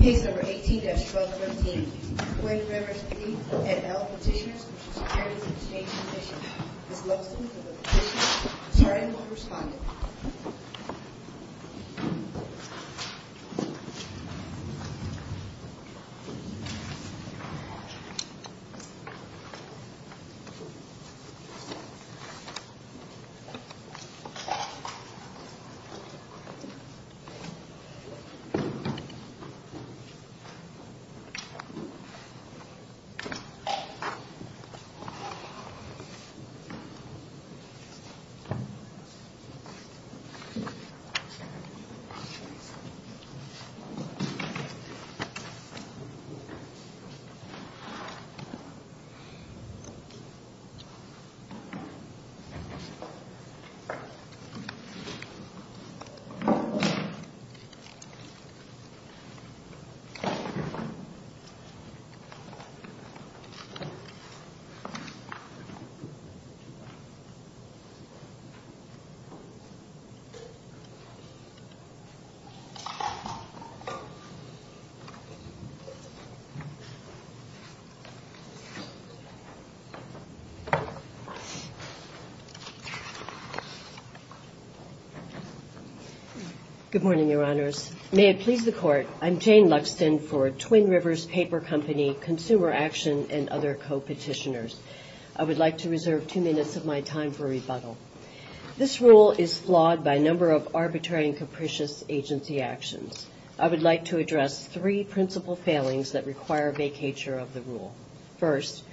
Case number 18-1213. Quake Rivers P&L Petitioners v. Securities and Exchange Commission. Ms. Loveson for the petition. Sorry, I'm not responding. Ms. Loveson for the petition. Good morning, Your Honors. May it please the Court, I'm Jane Luxton for Twin Rivers Paper Company Consumer Action and other co-petitioners. I would like to reserve two minutes of my time for rebuttal. This rule is flawed by a number of arbitrary and capricious agency actions. I would like to address three principal failings that require vacatur of the rule. First,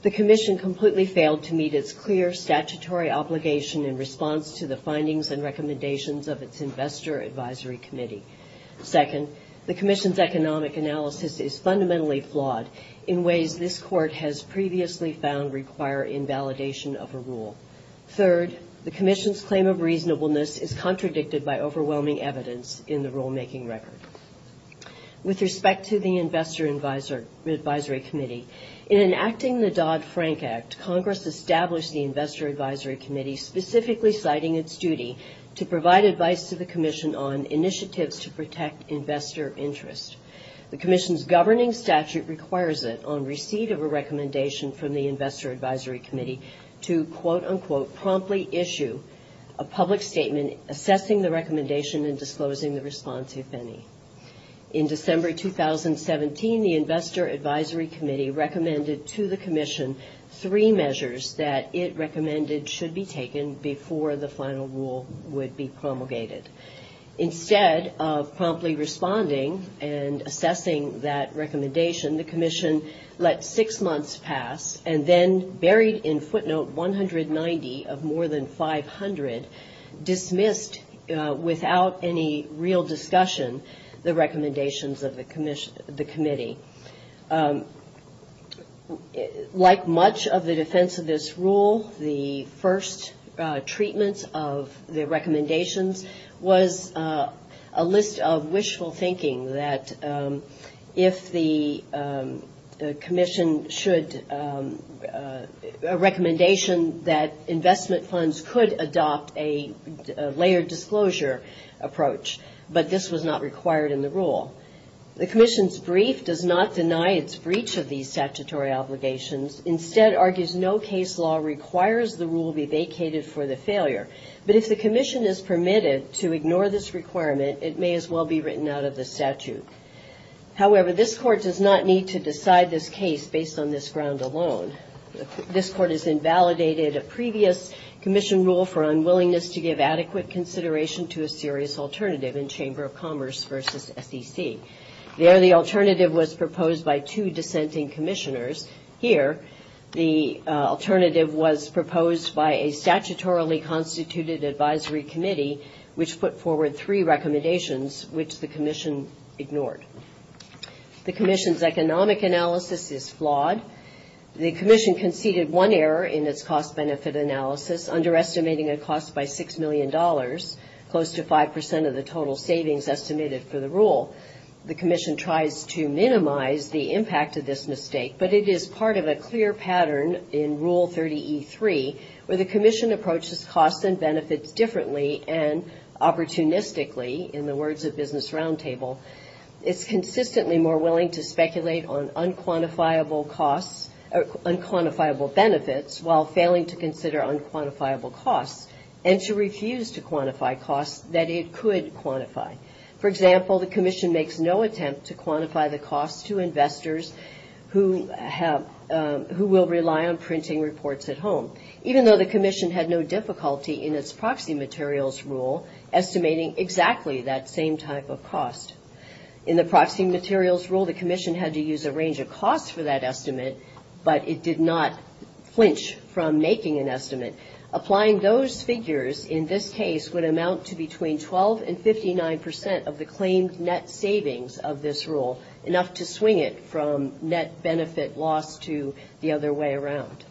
the Commission completely failed to meet its clear statutory obligation in response to the findings and recommendations of its Investor Advisory Committee. Second, the Commission's economic analysis is fundamentally flawed in ways this Court has previously found require invalidation of a rule. Third, the Commission's claim of reasonableness is contradicted by overwhelming evidence in the rulemaking record. With respect to the Investor Advisory Committee, in enacting the Dodd-Frank Act, Congress established the Investor Advisory Committee specifically citing its duty to provide advice to the Commission on initiatives to protect investor interest. The Commission's governing statute requires it, on receipt of a recommendation from the Investor Advisory Committee, to quote-unquote promptly issue a public statement assessing the recommendation and disclosing the response, if any. In December 2017, the Investor Advisory Committee recommended to the Commission three measures that it recommended should be taken before the final rule would be promulgated. Instead of promptly responding and assessing that recommendation, the Commission let six months pass and then, buried in footnote 190 of more than 500, dismissed, without any real discussion, the recommendations of the Committee. Like much of the defense of this rule, the first treatment of the recommendations was a list of wishful thinking that if the Commission should, a recommendation that investment funds could adopt a layered disclosure approach, but this was not required in the rule. The Commission's brief does not deny its breach of these statutory obligations, instead argues no case law requires the rule be vacated for the failure. But if the Commission is permitted to ignore this requirement, it may as well be written out of the statute. However, this Court does not need to decide this case based on this ground alone. This Court has invalidated a previous Commission rule for unwillingness to give adequate consideration to a serious alternative in Chamber of Commerce versus SEC. There, the alternative was proposed by two dissenting Commissioners. Here, the alternative was proposed by a statutorily constituted Advisory Committee, which put forward three recommendations, which the Commission ignored. The Commission's economic analysis is flawed. The Commission conceded one error in its cost-benefit analysis, underestimating a cost by $6 million, close to 5% of the total savings estimated for the rule. The Commission tries to minimize the impact of this mistake, but it is part of a clear pattern in Rule 30E3 where the Commission approaches costs and benefits differently and opportunistically, in the words of Business Roundtable, it's consistently more willing to speculate on unquantifiable costs or unquantifiable benefits, while failing to consider unquantifiable costs, and to refuse to quantify costs that it could quantify. For example, the Commission makes no attempt to quantify the costs to investors who will rely on printing reports at home. Even though the Commission had no difficulty in its proxy materials rule, estimating exactly that same type of cost. In the proxy materials rule, the Commission had to use a range of costs for that estimate, but it did not flinch from making an estimate. Applying those figures in this case would amount to between 12 and 59% of the claimed net savings of this rule, enough to swing it from net benefit loss to the other way around.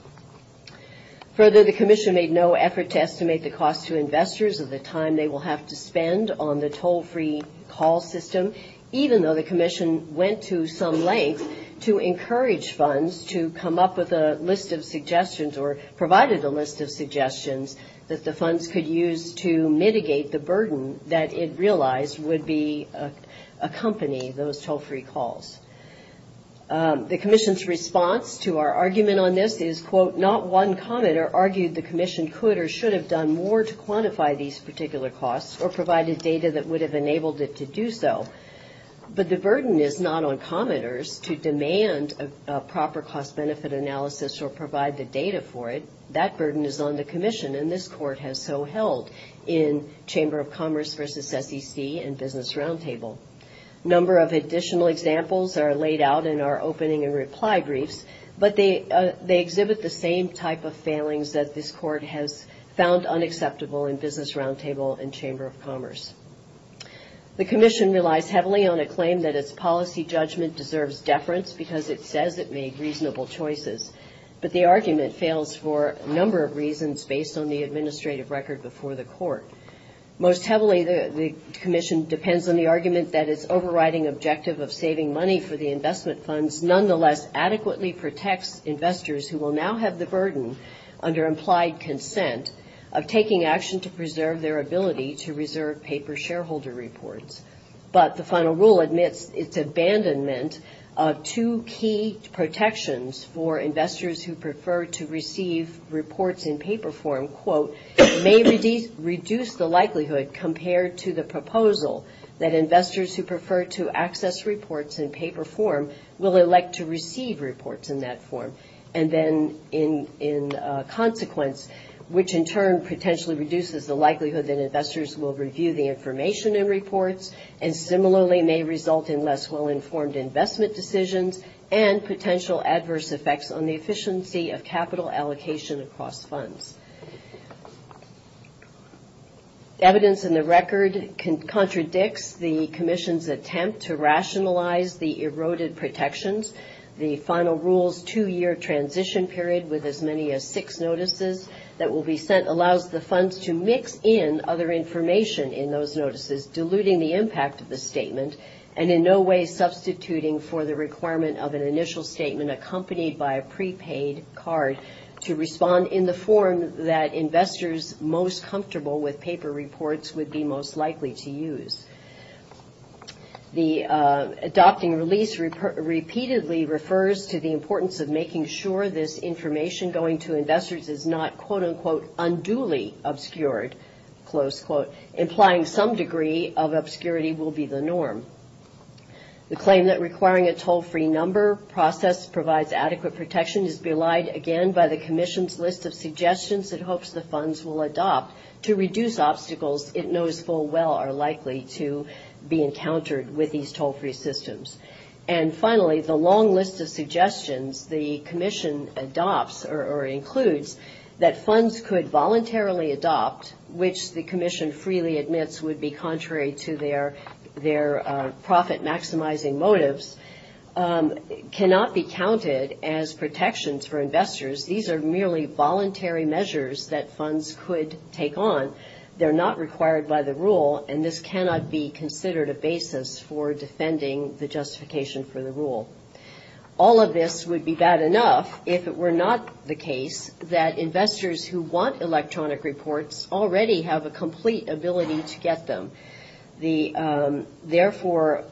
Further, the Commission made no effort to estimate the cost to investors of the time they will have to spend on the toll-free call system, even though the Commission went to some length to encourage funds to come up with a list of suggestions or provided a list of suggestions that the funds could use to mitigate the burden that it realized would be a company, those toll-free calls. The Commission's response to our argument on this is, quote, not one commenter argued the Commission could or should have done more to quantify these particular costs or provide a data that would have enabled it to do so. But the burden is not on commenters to demand a proper cost-benefit analysis or provide the data for it. That burden is on the Commission, and this Court has so held in Chamber of Commerce versus SEC and Business Roundtable. A number of additional examples are laid out in our opening and reply briefs, but they exhibit the same type of failings that this Court has found unacceptable in Business Roundtable and Chamber of Commerce. The Commission relies heavily on a claim that its policy judgment deserves deference because it says it made reasonable choices, but the argument fails for a number of reasons based on the administrative record before the Court. Most heavily, the Commission depends on the argument that its overriding objective of saving money for the investment funds nonetheless adequately protects investors who will now have the burden under implied consent of taking action to preserve their ability to reserve paper shareholder reports. But the final rule admits its abandonment of two key protections for investors who prefer to receive reports in paper form, quote, may reduce the burden on investors who prefer to receive reports in paper form. And it says, quote, may reduce the likelihood, compared to the proposal, that investors who prefer to access reports in paper form will elect to receive reports in that form, and then in consequence, which in turn potentially reduces the likelihood that investors will review the information in reports and similarly may result in less well-informed investment decisions and potential adverse effects on the efficiency of capital allocation across funds. Evidence in the record contradicts the Commission's attempt to rationalize the eroded protections. The final rule's two-year transition period with as many as six notices that will be sent allows the funds to mix in other information in those notices, diluting the impact of the statement and in no way substituting for the requirement of an initial statement accompanied by a prepaid card to respond in the form that investors most comfortable with paper form. The final rule also states that the information in the report should be used in a way that the shareholder reports would be most likely to use. The adopting release repeatedly refers to the importance of making sure this information going to investors is not, quote, unquote, unduly obscured, close quote, implying some degree of obscurity will be the norm. The claim that requiring a toll-free number process provides adequate protection is belied again by the Commission's list of suggestions it hopes the funds will adopt to reduce obstacles in the process. The Commission's list of suggestions includes that funds could voluntarily adopt, which the Commission freely admits would be contrary to their profit-maximizing motives, cannot be counted as protections for investors. These are merely voluntary measures that funds could take on. They're not required by the rule, and this cannot be considered a basis for defending the justification for the rule. All of this would be bad enough if it were not the case that investors who want electronic reports already have a complete ability to get them. Therefore,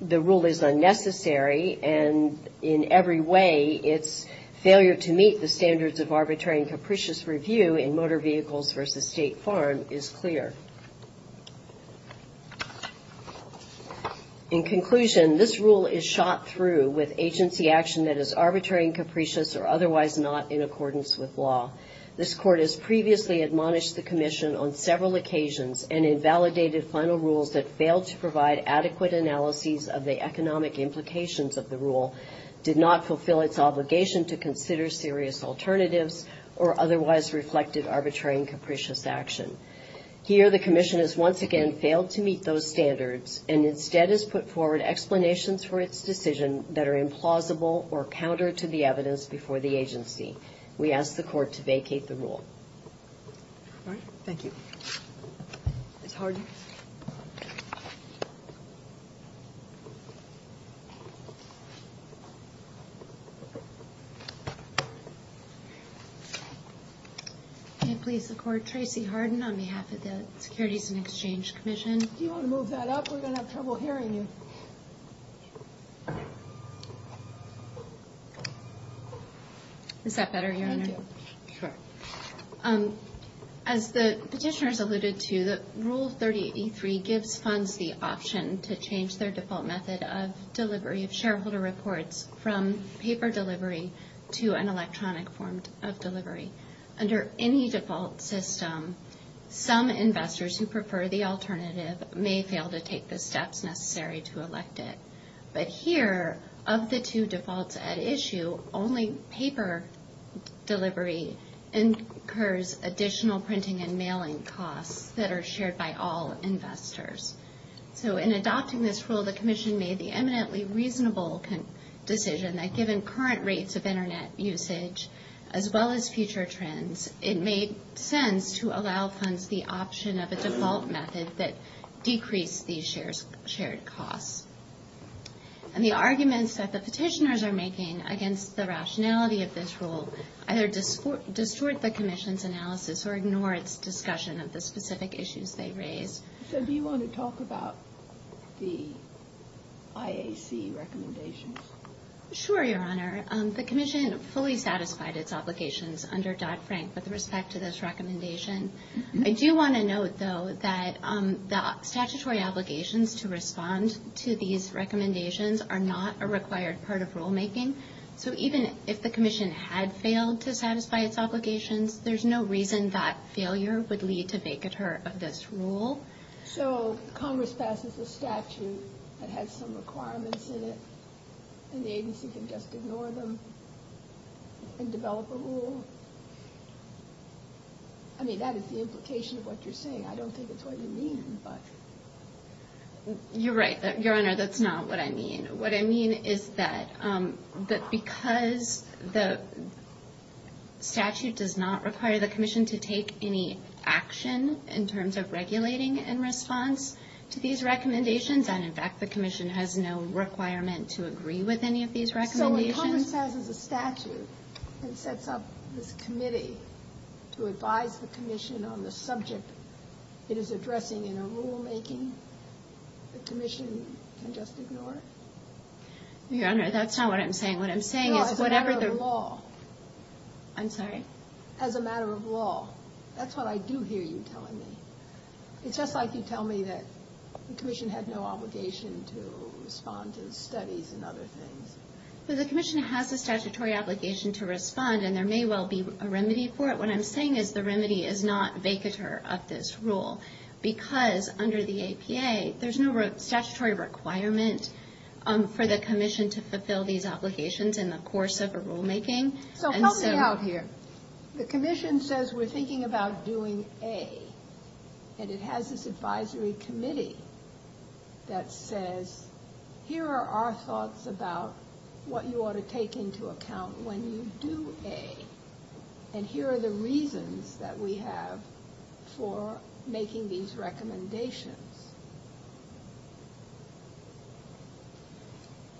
the rule is unnecessary, and in every way it's failure to meet the standards of the Commission's list of suggestions. The standards of arbitrary and capricious review in Motor Vehicles v. State Farm is clear. In conclusion, this rule is shot through with agency action that is arbitrary and capricious or otherwise not in accordance with law. This Court has previously admonished the Commission on several occasions and invalidated final rules that failed to provide adequate analyses of the economic implications of the rule, did not fulfill its obligation to consider serious alternatives. Or otherwise reflected arbitrary and capricious action. Here, the Commission has once again failed to meet those standards, and instead has put forward explanations for its decision that are implausible or counter to the evidence before the agency. We ask the Court to vacate the rule. Tracey Hardin on behalf of the Securities and Exchange Commission. As the petitioners alluded to, Rule 30E3 gives funds the option to change their default method of delivery of shareholder reports from paper delivery to an electronic form. Under any default system, some investors who prefer the alternative may fail to take the steps necessary to elect it. But here, of the two defaults at issue, only paper delivery incurs additional printing and mailing costs that are shared by all investors. So in adopting this rule, the Commission made the eminently reasonable decision that given current rates of Internet usage, as well as future trends, it made sense to allow funds the option of a default method that decreased these shared costs. And the arguments that the petitioners are making against the rationality of this rule either distort the Commission's analysis or ignore its discussion of the specific issues they raise. So do you want to talk about the IAC recommendations? Sure, Your Honor. The Commission fully satisfied its obligations under Dodd-Frank with respect to this recommendation. I do want to note, though, that the statutory obligations to respond to these recommendations are not a required part of rulemaking. So even if the Commission had failed to satisfy its obligations, there's no reason that failure would lead to vacateur of this rule. So Congress passes a statute that has some requirements in it, and the agency can just ignore them and develop a rule? I mean, that is the implication of what you're saying. I don't think it's what you mean, but... You're right, Your Honor, that's not what I mean. What I mean is that because the statute does not require the Commission to take any action in terms of regulating it, in response to these recommendations, and in fact the Commission has no requirement to agree with any of these recommendations... So when Congress passes a statute and sets up this committee to advise the Commission on the subject it is addressing in a rulemaking, the Commission can just ignore it? Your Honor, that's not what I'm saying. What I'm saying is whatever the... It sounds like you tell me that the Commission had no obligation to respond to the studies and other things. The Commission has a statutory obligation to respond, and there may well be a remedy for it. What I'm saying is the remedy is not vacateur of this rule, because under the APA there's no statutory requirement for the Commission to fulfill these obligations in the course of a rulemaking. So help me out here. There's no advisory committee that says, here are our thoughts about what you ought to take into account when you do A, and here are the reasons that we have for making these recommendations.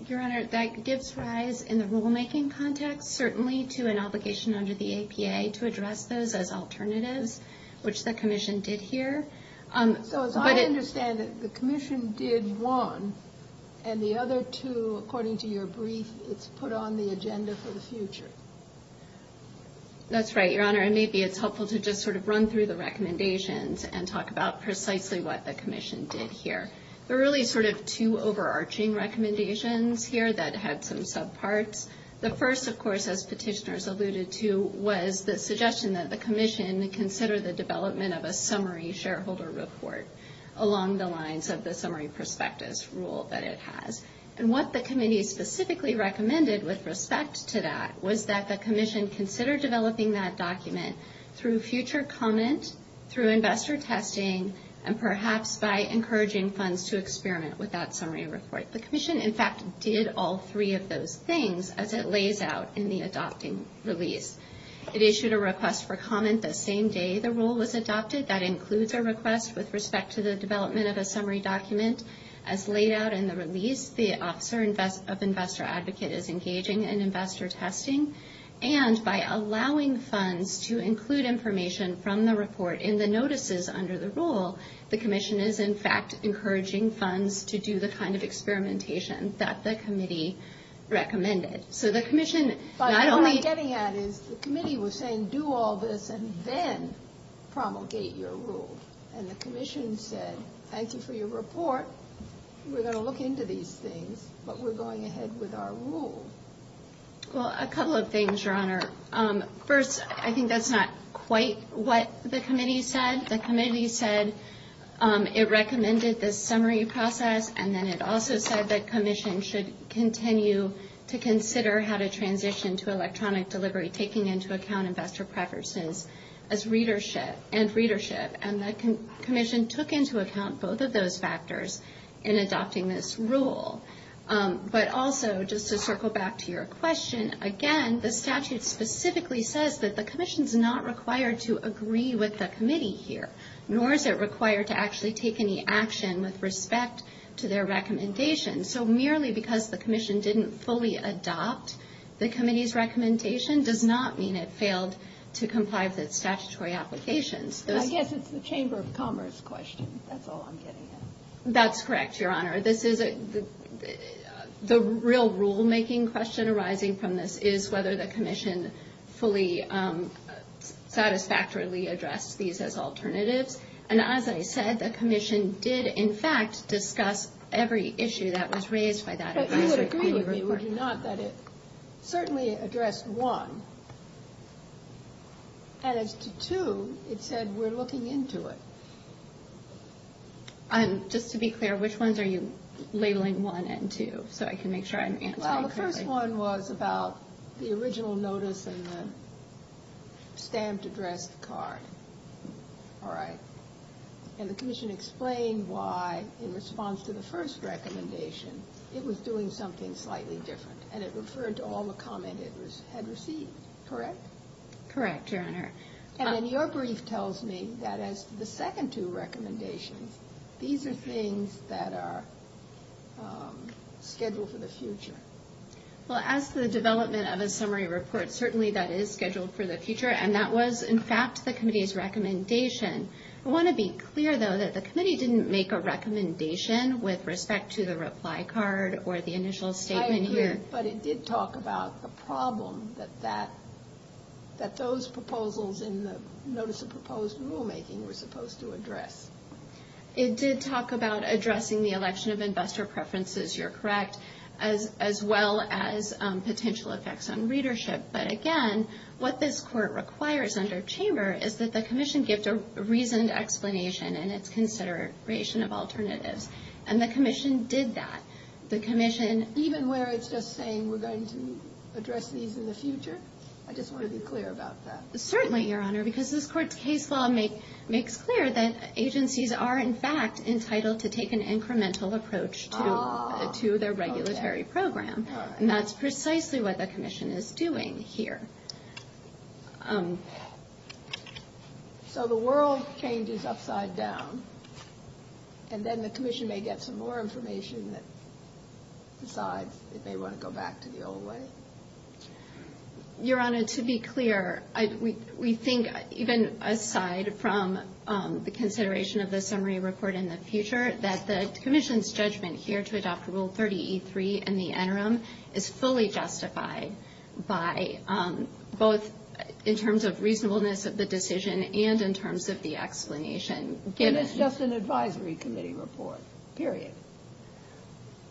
Your Honor, that gives rise in the rulemaking context certainly to an obligation under the APA to address those as alternatives, which the Commission did here. So as I understand it, the Commission did one, and the other two, according to your brief, it's put on the agenda for the future. That's right, Your Honor, and maybe it's helpful to just sort of run through the recommendations and talk about precisely what the Commission did here. There are really sort of two overarching recommendations here that had some subparts. The first, of course, as petitioners alluded to, was the suggestion that the Commission consider the development of a summary shareholder report. Along the lines of the summary prospectus rule that it has, and what the Committee specifically recommended with respect to that was that the Commission consider developing that document through future comment, through investor testing, and perhaps by encouraging funds to experiment with that summary report. The Commission, in fact, did all three of those things as it lays out in the adopting release. It issued a request for comment the same day the rule was adopted. As to the development of a summary document, as laid out in the release, the officer of investor advocate is engaging in investor testing, and by allowing funds to include information from the report in the notices under the rule, the Commission is, in fact, encouraging funds to do the kind of experimentation that the Committee recommended. So the Commission not only... Thank you for your report, we're going to look into these things, but we're going ahead with our rule. Well, a couple of things, Your Honor. First, I think that's not quite what the Committee said. The Committee said it recommended this summary process, and then it also said that the Commission should continue to consider how to transition to electronic delivery, taking into account investor preferences and readership. And the Commission took into account both of those factors in adopting this rule. But also, just to circle back to your question, again, the statute specifically says that the Commission's not required to agree with the Committee here, nor is it required to actually take any action with respect to their recommendations. So merely because the Commission didn't fully adopt the Committee's recommendation does not mean it failed to comply with its statutory applications. I guess it's the Chamber of Commerce question, that's all I'm getting at. That's correct, Your Honor. The real rulemaking question arising from this is whether the Commission fully satisfactorily addressed these as alternatives. And as I said, the Commission did, in fact, discuss every issue that was raised by that advisor. But you would agree with me, would you not, that it certainly addressed one. And as to two, it said, we're looking into it. And just to be clear, which ones are you labeling one and two, so I can make sure I'm answering correctly? Well, the first one was about the original notice and the stamped address card, all right? And the Commission explained why, in response to the first recommendation, it was doing something slightly different, and it referred to all the comment it had received. Correct? Correct, Your Honor. And then your brief tells me that as to the second two recommendations, these are things that are scheduled for the future. Well, as to the development of a summary report, certainly that is scheduled for the future, and that was, in fact, the Committee's recommendation. I want to be clear, though, that the Committee didn't make a recommendation with respect to the reply card or the initial statement here. That those proposals in the notice of proposed rulemaking were supposed to address. It did talk about addressing the election of investor preferences, you're correct, as well as potential effects on readership. But again, what this Court requires under Chamber is that the Commission give a reasoned explanation in its consideration of alternatives. And the Commission did that. I just want to be clear about that. Certainly, Your Honor, because this Court's case law makes clear that agencies are, in fact, entitled to take an incremental approach to their regulatory program. And that's precisely what the Commission is doing here. So the world changes upside down, and then the Commission may get some more information that decides it may want to go back to the old way? Your Honor, to be clear, we think, even aside from the consideration of the summary report in the future, that the Commission's judgment here to adopt Rule 30E3 in the interim is fully justified by both in terms of reasonableness of the decision and in terms of the explanation given. It's just an advisory committee report, period.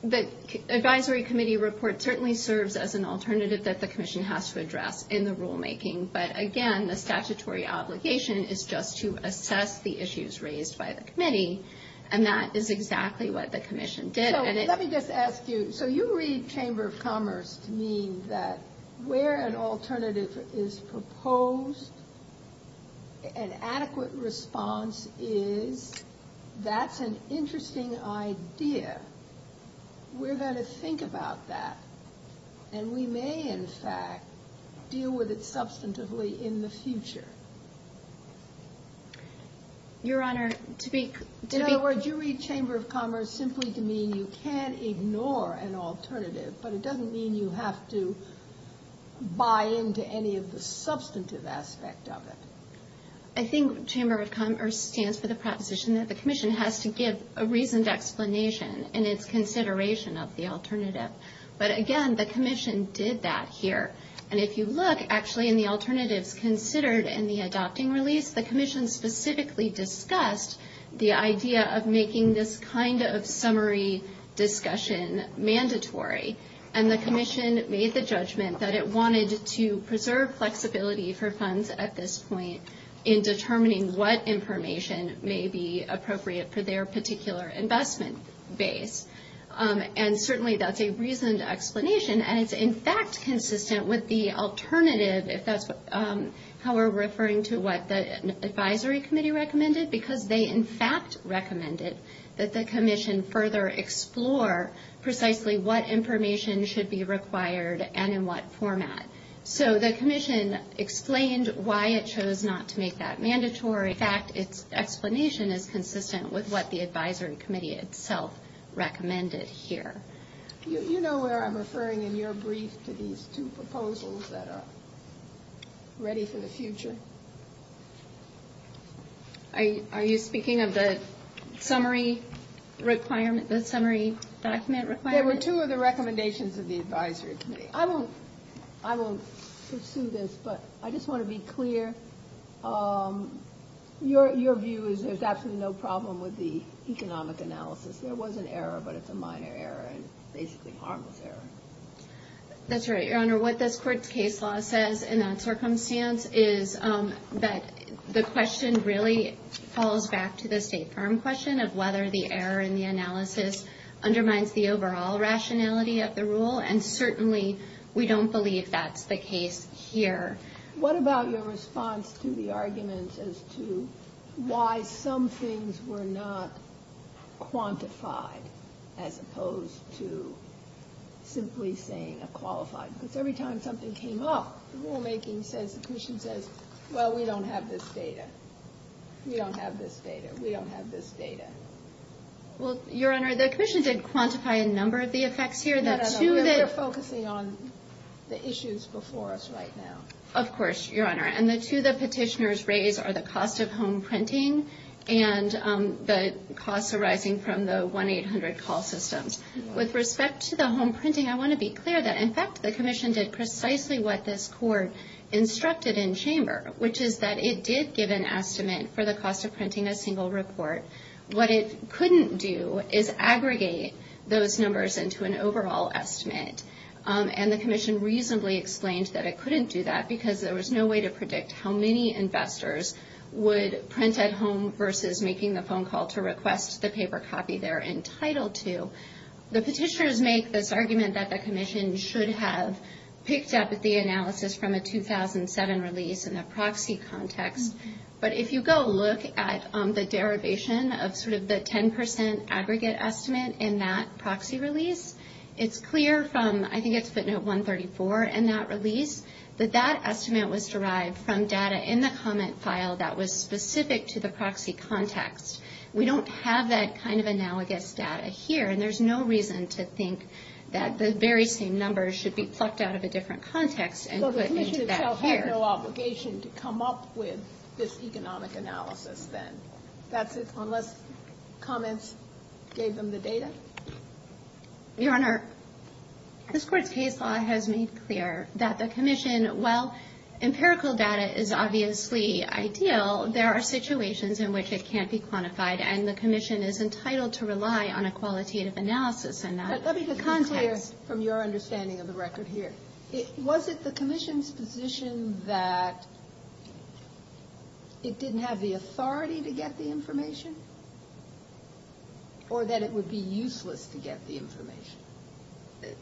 The advisory committee report certainly serves as an alternative that the Commission has to address in the rulemaking. But again, the statutory obligation is just to assess the issues raised by the Committee, and that is exactly what the Commission did. So let me just ask you, so you read Chamber of Commerce to mean that where an alternative is proposed, an adequate response is, that's an interesting idea. We're going to think about that, and we may, in fact, deal with it substantively in the future. In other words, you read Chamber of Commerce simply to mean you can't ignore an alternative, but it doesn't mean you have to buy into any of the substantive aspect of it. I think Chamber of Commerce stands for the proposition that the Commission has to give a reasoned explanation in its consideration of the alternative. But again, the Commission did that here. And if you look, actually, in the alternatives considered in the adopting release, the Commission specifically discussed the idea of making this kind of summary discussion mandatory. And the Commission made the judgment that it wanted to preserve flexibility for funds at this point. In determining what information may be appropriate for their particular investment base. And certainly that's a reasoned explanation, and it's in fact consistent with the alternative, if that's how we're referring to what the Advisory Committee recommended. Because they, in fact, recommended that the Commission further explore precisely what information should be required and in what format. So the Commission explained why it chose not to make that mandatory. In fact, its explanation is consistent with what the Advisory Committee itself recommended here. You know where I'm referring in your brief to these two proposals that are ready for the future? Are you speaking of the summary requirement, the summary document requirement? There were two of the recommendations of the Advisory Committee. I won't pursue this, but I just want to be clear. Your view is there's absolutely no problem with the economic analysis. There was an error, but it's a minor error, and basically harmless error. That's right, Your Honor. Your Honor, what this Court's case law says in that circumstance is that the question really falls back to the state firm question of whether the error in the analysis undermines the overall rationality of the rule, and certainly we don't believe that's the case here. What about your response to the arguments as to why some things were not quantified, as opposed to simply saying a qualified? Every time something came up, the rulemaking says, the Commission says, well, we don't have this data. We don't have this data. We don't have this data. Well, Your Honor, the Commission did quantify a number of the effects here. No, no, no. We're focusing on the issues before us right now. Of course, Your Honor, and the two the petitioners raise are the cost of home printing and the costs arising from the 1-800 call systems. With respect to the home printing, I want to be clear that, in fact, the Commission did precisely what this Court instructed in chamber, which is that it did give an estimate for the cost of printing a single report. What it couldn't do is aggregate those numbers into an overall estimate, and the Commission reasonably explained that it couldn't do that because there was no way to predict how many investors would print at home versus making the phone call to request the paper copy they're entitled to. The petitioners make this argument that the Commission should have picked up the analysis from a 2007 release in the proxy context, but if you go look at the derivation of sort of the 10% aggregate estimate in that proxy release, it's clear from, I think it's footnote 134 in that release, that that estimate was derived from data in the comment file that was specific to the proxy context. We don't have that kind of analogous data here, and there's no reason to think that the very same numbers should be plucked out of a different context and put into that here. But the Commission itself had no obligation to come up with this economic analysis then, unless comments gave them the data? Your Honor, this Court's case law has made clear that the Commission, while empirical data is obviously ideal, there are situations in which it can't be quantified. And the Commission is entitled to rely on a qualitative analysis in that context. But let me just be clear from your understanding of the record here. Was it the Commission's position that it didn't have the authority to get the information? Or that it would be useless to get the information?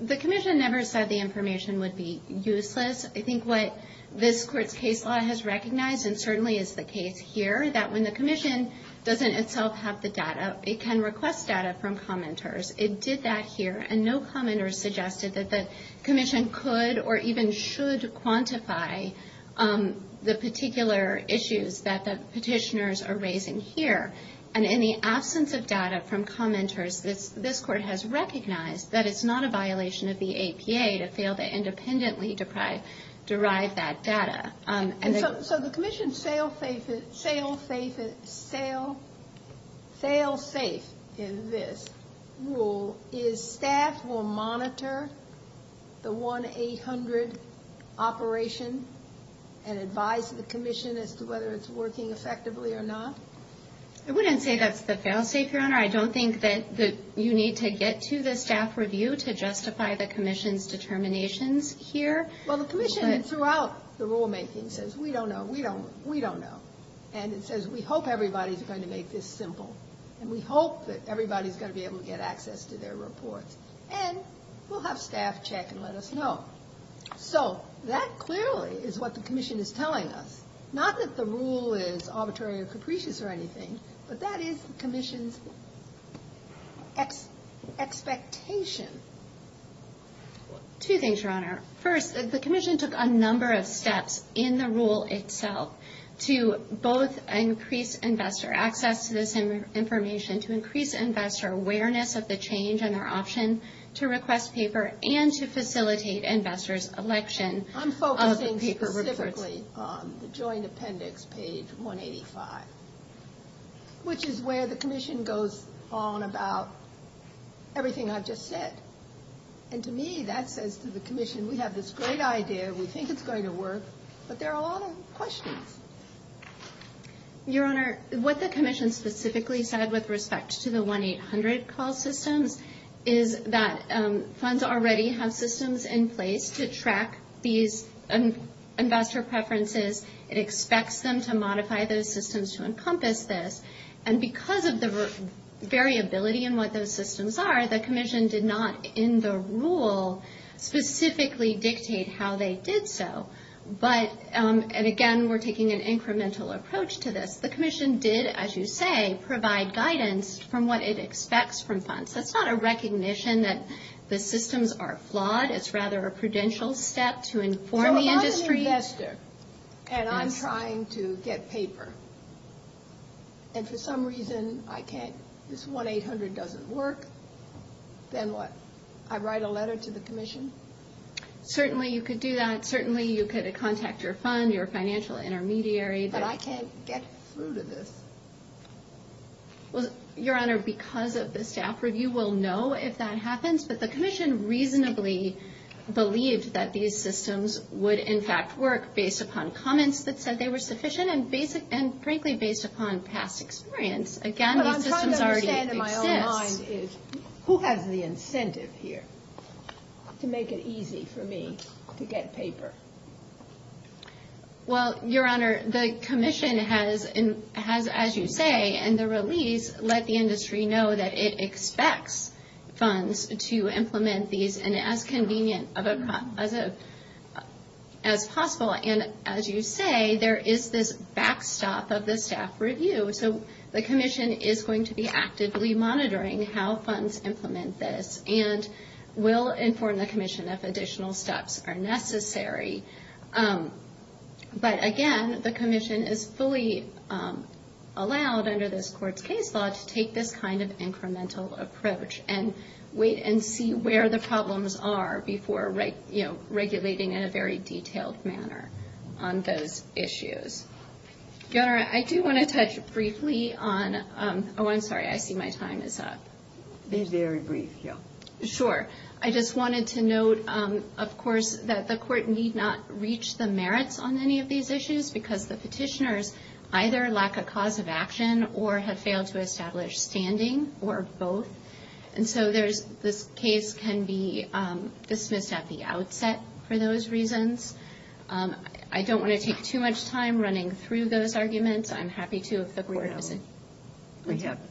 The Commission never said the information would be useless. I think what this Court's case law has recognized, and certainly is the case here, that when the Commission doesn't itself have the data, it can request data from commenters. It did that here, and no commenters suggested that the Commission could or even should quantify the particular issues that the petitioners are raising here. And in the absence of data from commenters, this Court has recognized that it's not a violation of the APA to fail to independently deprive commenters of data. So the Commission's fail-safe in this rule is staff will monitor the 1-800 operation and advise the Commission as to whether it's working effectively or not? I wouldn't say that's the fail-safe, Your Honor. I don't think that you need to get to the staff review to justify the Commission's determinations here. Well, the Commission throughout the rulemaking says, we don't know, we don't know. And it says, we hope everybody's going to make this simple. And we hope that everybody's going to be able to get access to their reports. And we'll have staff check and let us know. So that clearly is what the Commission is telling us. Not that the rule is arbitrary or capricious or anything, but that is the Commission's expectation. Two things, Your Honor. First, the Commission took a number of steps in the rule itself to both increase investor access to this information, to increase investor awareness of the change and their option to request paper, and to facilitate investors' election of the paper reports. I'm focusing specifically on the joint appendix, page 185, which is where the Commission goes on about everything I've just said. And to me, that says to the Commission, we have this great idea, we think it's going to work, but there are a lot of questions. Your Honor, what the Commission specifically said with respect to the 1-800 call systems is that funds already have systems in place to track these investor preferences. It expects them to modify those systems to encompass this. And because of the variability in what those systems are, the Commission did not, in the rule, specifically dictate how they did so. But, and again, we're taking an incremental approach to this, the Commission did, as you say, provide guidance from what it expects from funds. That's not a recognition that the systems are flawed. It's rather a prudential step to inform the industry. So if I'm an investor, and I'm trying to get paper, and for some reason I'm not getting it, I'm not getting it. If for some reason I can't, this 1-800 doesn't work, then what? I write a letter to the Commission? Certainly you could do that. Certainly you could contact your fund, your financial intermediary. But I can't get through to this. Well, Your Honor, because of the staff review, we'll know if that happens. But the Commission reasonably believed that these systems would, in fact, work, based upon comments that said they were sufficient, and frankly, based upon past experience. Again, these systems already exist. But what I'm trying to understand in my own mind is, who has the incentive here to make it easy for me to get paper? Well, Your Honor, the Commission has, as you say, in the release, let the industry know that it expects funds to implement these, and as convenient as possible. And as you say, there is this backstop of the staff review. The Commission is going to be actively monitoring how funds implement this, and will inform the Commission if additional steps are necessary. But again, the Commission is fully allowed, under this Court's case law, to take this kind of incremental approach, and wait and see where the problems are before regulating in a very detailed manner on those issues. Your Honor, I do want to touch briefly on, oh, I'm sorry, I see my time is up. Be very brief, Jill. Sure. I just wanted to note, of course, that the Court need not reach the merits on any of these issues, because the petitioners either lack a cause of action, or have failed to establish standing, or both. And so this case can be dismissed at the outset for those reasons. I don't want to take too much time running through those arguments. I'm happy to, if the Court doesn't...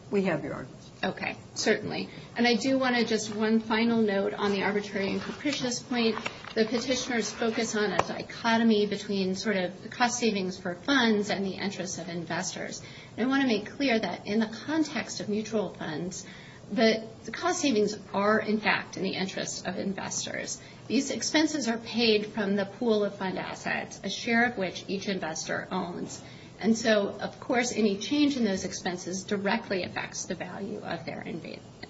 We have your arguments. Okay, certainly. And I do want to just one final note on the arbitrary and capricious point. The petitioners focus on a dichotomy between sort of the cost savings for funds and the interest of investors. And I want to make clear that in the context of mutual funds, that the cost savings are, in fact, in the interest of investors. These expenses are paid from the pool of fund assets, a share of which each investor owns. And so, of course, any change in those expenses directly affects the value of their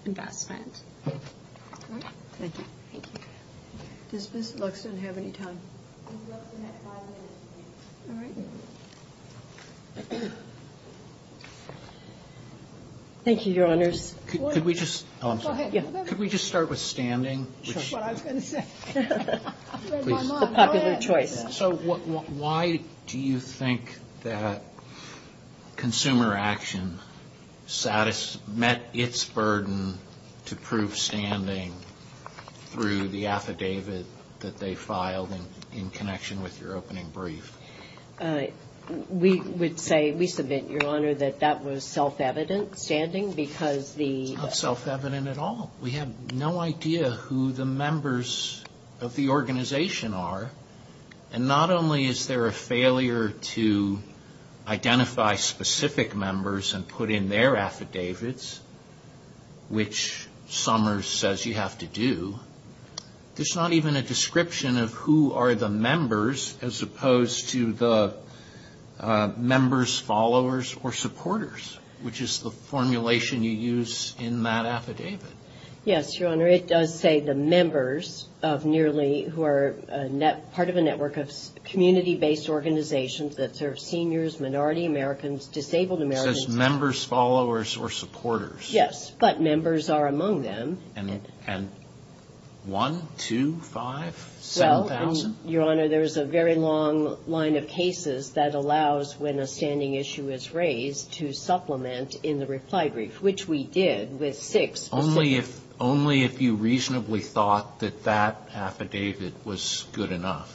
investment. Does Ms. Luxton have any time? Thank you, Your Honors. So why do you think that consumer action met its burden to prove standing through the affidavit that they filed in connection with your opening brief? We would say, we submit, Your Honor, that that was self-evident standing, because the... The members of the organization are, and not only is there a failure to identify specific members and put in their affidavits, which Summers says you have to do, there's not even a description of who are the members, as opposed to the members, followers, or supporters, which is the formulation you use in that affidavit. Yes, Your Honor, it does say the members of nearly, who are part of a network of community-based organizations that serve seniors, minority Americans, disabled Americans. It says members, followers, or supporters. Yes, but members are among them. And one, two, five, 7,000? Your Honor, there's a very long line of cases that allows, when a standing issue is raised, to supplement in the reply brief, which we did with six. Only if you reasonably thought that that affidavit was good enough.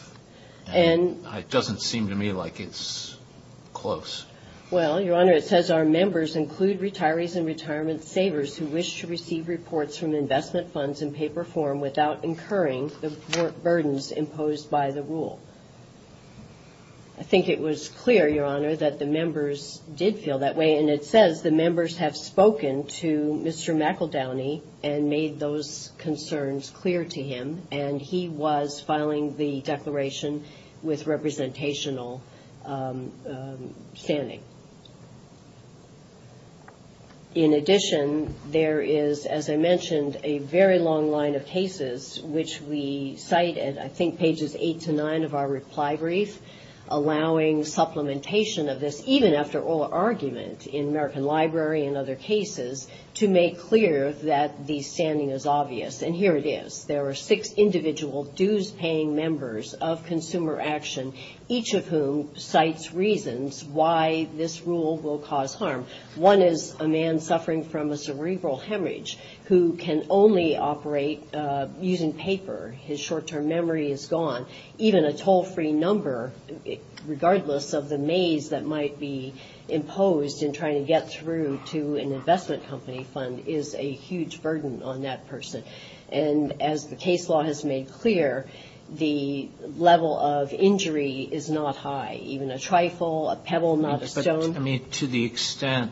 And it doesn't seem to me like it's close. Well, Your Honor, it says our members include retirees and retirement savers who wish to receive reports from investment funds in paper form without incurring the burdens imposed by the affidavit. I think it was clear, Your Honor, that the members did feel that way, and it says the members have spoken to Mr. McEldowney and made those concerns clear to him, and he was filing the declaration with representational standing. In addition, there is, as I mentioned, a very long line of cases, which we cite at, I think, pages 18 and 19. And I think it's in page 18 to 9 of our reply brief, allowing supplementation of this, even after oral argument in American Library and other cases, to make clear that the standing is obvious. And here it is. There are six individual dues-paying members of Consumer Action, each of whom cites reasons why this rule will cause harm. One is a man suffering from a cerebral hemorrhage who can only operate using paper. His short-term memory is gone. Even a toll-free number, regardless of the maze that might be imposed in trying to get through to an investment company fund, is a huge burden on that person. And as the case law has made clear, the level of injury is not high. Even a trifle, a pebble, not a stone. I mean, to the extent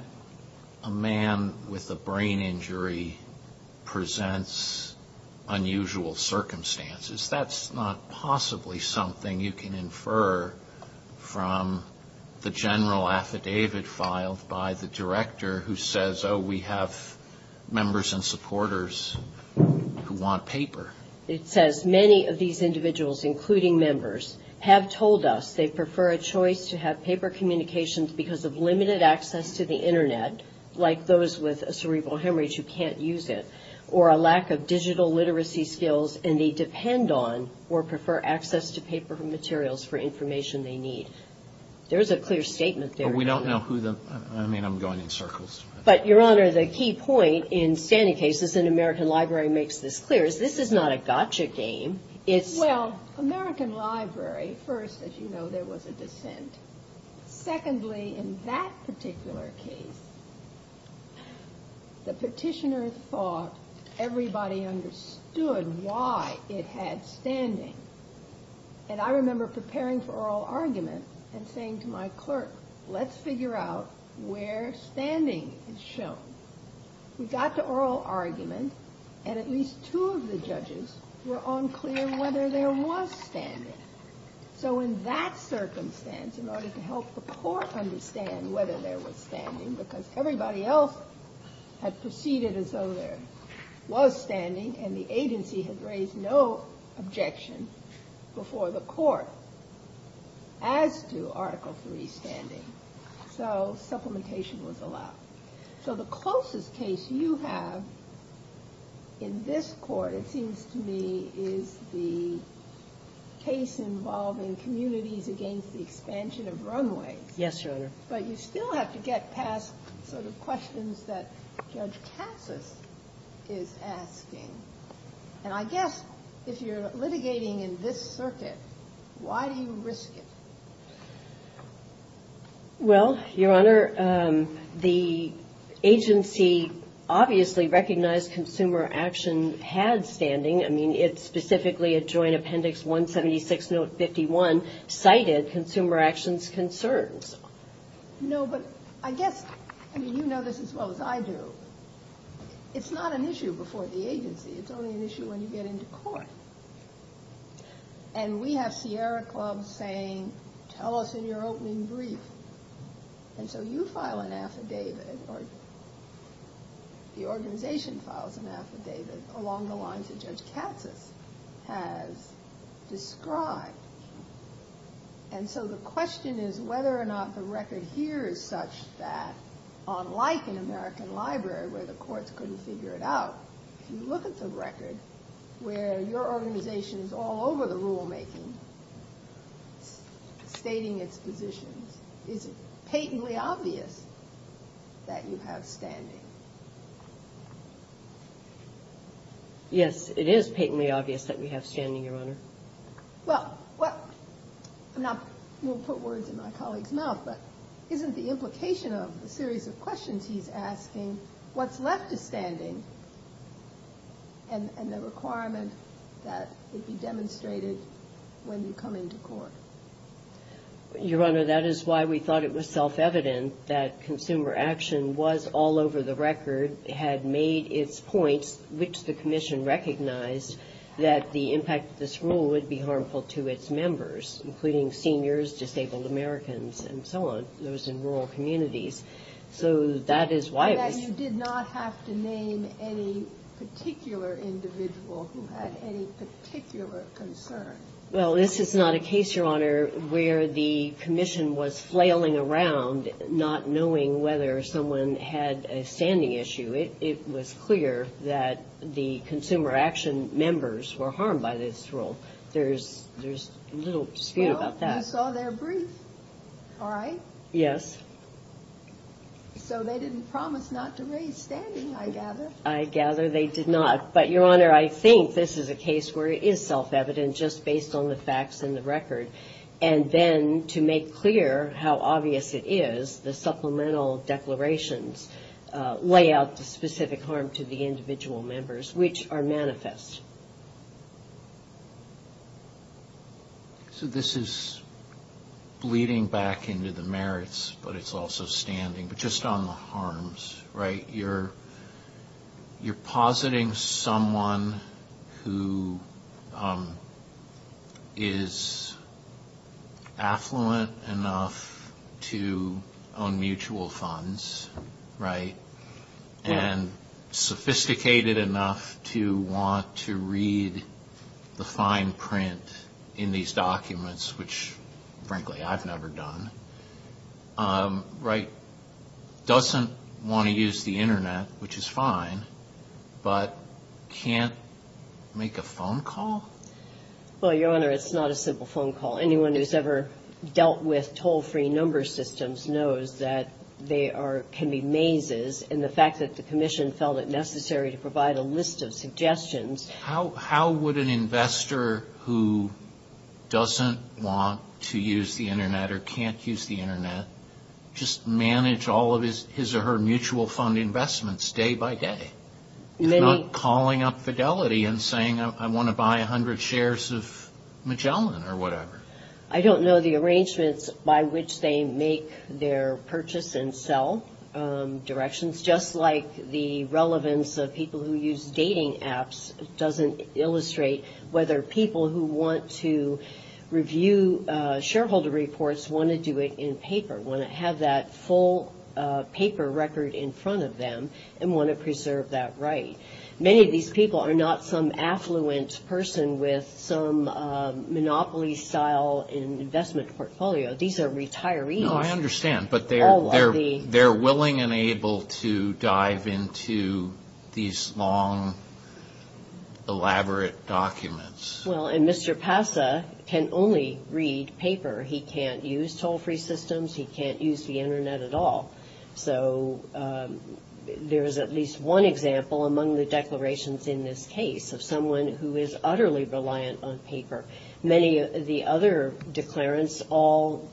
a man with a brain injury presents unusual circumstances, that's not possibly something you can infer from the general affidavit filed by the director who says, oh, we have members and supporters who want paper. It says, many of these individuals, including members, have told us they prefer a choice to have paper communications because of what they're doing. They have limited access to the Internet, like those with a cerebral hemorrhage who can't use it, or a lack of digital literacy skills, and they depend on or prefer access to paper materials for information they need. There's a clear statement there. But, Your Honor, the key point in standing cases, and American Library makes this clear, is this is not a gotcha game. Well, American Library, first, as you know, there was a dissent. Secondly, in that particular case, the petitioner thought everybody understood why it had standing. And I remember preparing for oral argument and saying to my clerk, let's figure out where standing is shown. We got to oral argument, and at least two of the judges were unclear whether there was standing. So in that circumstance, in order to help the court understand whether there was standing, because everybody else had proceeded as though there was standing, and the agency had raised no objection before the court as to Article III standing. So supplementation was allowed. So the closest case you have in this court, it seems to me, is the case involving communities against the expansion of runways. Yes, Your Honor. But you still have to get past sort of questions that Judge Cassis is asking. And I guess if you're litigating in this circuit, why do you risk it? Well, Your Honor, the agency obviously recognized consumer action had standing. I mean, it specifically, at Joint Appendix 176, Note 51, cited consumer actions concerns. No, but I guess, I mean, you know this as well as I do. It's not an issue before the agency. It's only an issue when you get into court. And we have Sierra Club saying, tell us in your opening brief. And so you file an affidavit, or the organization files an affidavit, along the lines that Judge Cassis has described. And so the question is whether or not the record here is such that, unlike in American Library, where the courts couldn't figure it out, if you look at the record, where your opening brief, and there are organizations all over the rulemaking stating its positions, is it patently obvious that you have standing? Yes, it is patently obvious that we have standing, Your Honor. Well, I'm not, I won't put words in my colleague's mouth, but isn't the implication of the series of questions he's asking, what's left of standing? And the requirement that it be demonstrated when you come into court? Your Honor, that is why we thought it was self-evident that consumer action was all over the record, had made its points, which the Commission recognized that the impact of this rule would be harmful to its members, including seniors, disabled Americans, and so on, those in rural communities. So that is why it was... And that you did not have to name any particular individual who had any particular concern? Well, this is not a case, Your Honor, where the Commission was flailing around, not knowing whether someone had a standing issue. It was clear that the consumer action members were harmed by this rule. There's little dispute about that. And you saw their brief, all right? Yes. So they didn't promise not to raise standing, I gather. I gather they did not. But, Your Honor, I think this is a case where it is self-evident, just based on the facts and the record. And then, to make clear how obvious it is, the supplemental declarations lay out the specific harm to the individual members, which are manifest. So this is bleeding back into the merits, but it's also standing, but just on the harms, right? You're positing someone who is affluent enough to own mutual funds, right? And sophisticated enough to want to read the fine print in these documents, which, frankly, I've never done, right? Doesn't want to use the Internet, which is fine, but can't make a phone call? Well, Your Honor, it's not a simple phone call. Anyone who's ever dealt with toll-free number systems knows that they can be mazes, and the fact that the Commission felt it necessary to provide a list of suggestions... How would an investor who doesn't want to use the Internet or can't use the Internet just manage all of his or her mutual fund investments day by day? If not calling up Fidelity and saying, I want to buy 100 shares of Magellan or whatever? I don't know the arrangements by which they make their purchase and sell directions. Just like the relevance of people who use dating apps doesn't illustrate whether people who want to review shareholder reports want to do it in paper, want to have that full paper record in front of them, and want to preserve that right. Many of these people are not some affluent person with some monopoly-style investment portfolio. These are retirees. No, I understand, but they're willing and able to dive into these long, elaborate documents. Well, and Mr. Passa can only read paper. He can't use toll-free systems. He can't use the Internet at all. So there's at least one example among the declarations in this case of someone who is utterly reliant on paper. Many of the other declarants all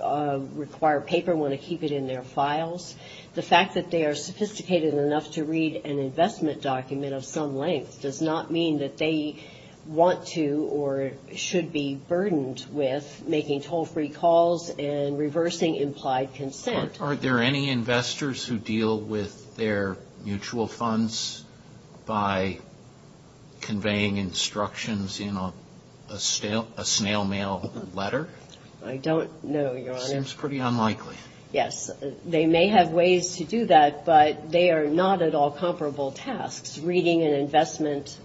require paper, want to keep it in their files. The fact that they are sophisticated enough to read an investment document of some length does not mean that they want to or should be burdened with making toll-free calls and reversing implied consent. Are there any investors who deal with their mutual funds by conveying instructions in a snail mail letter? I don't know, Your Honor. It seems pretty unlikely. Yes, they may have ways to do that, but they are not at all comparable tasks. Reading an investment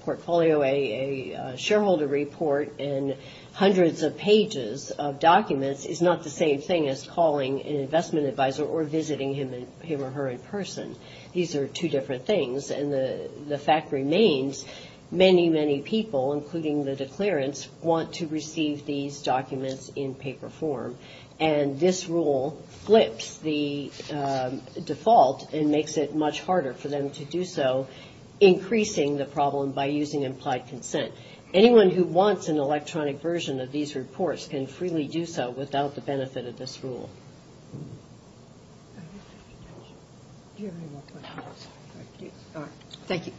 portfolio, a shareholder report in hundreds of pages of documents is not the same thing as calling a mutual fund. It's not the same as calling an investment advisor or visiting him or her in person. These are two different things, and the fact remains, many, many people, including the declarants, want to receive these documents in paper form. And this rule flips the default and makes it much harder for them to do so, increasing the problem by using implied consent. Anyone who wants an electronic version of these reports can freely do so without the benefit of this rule. Thank you.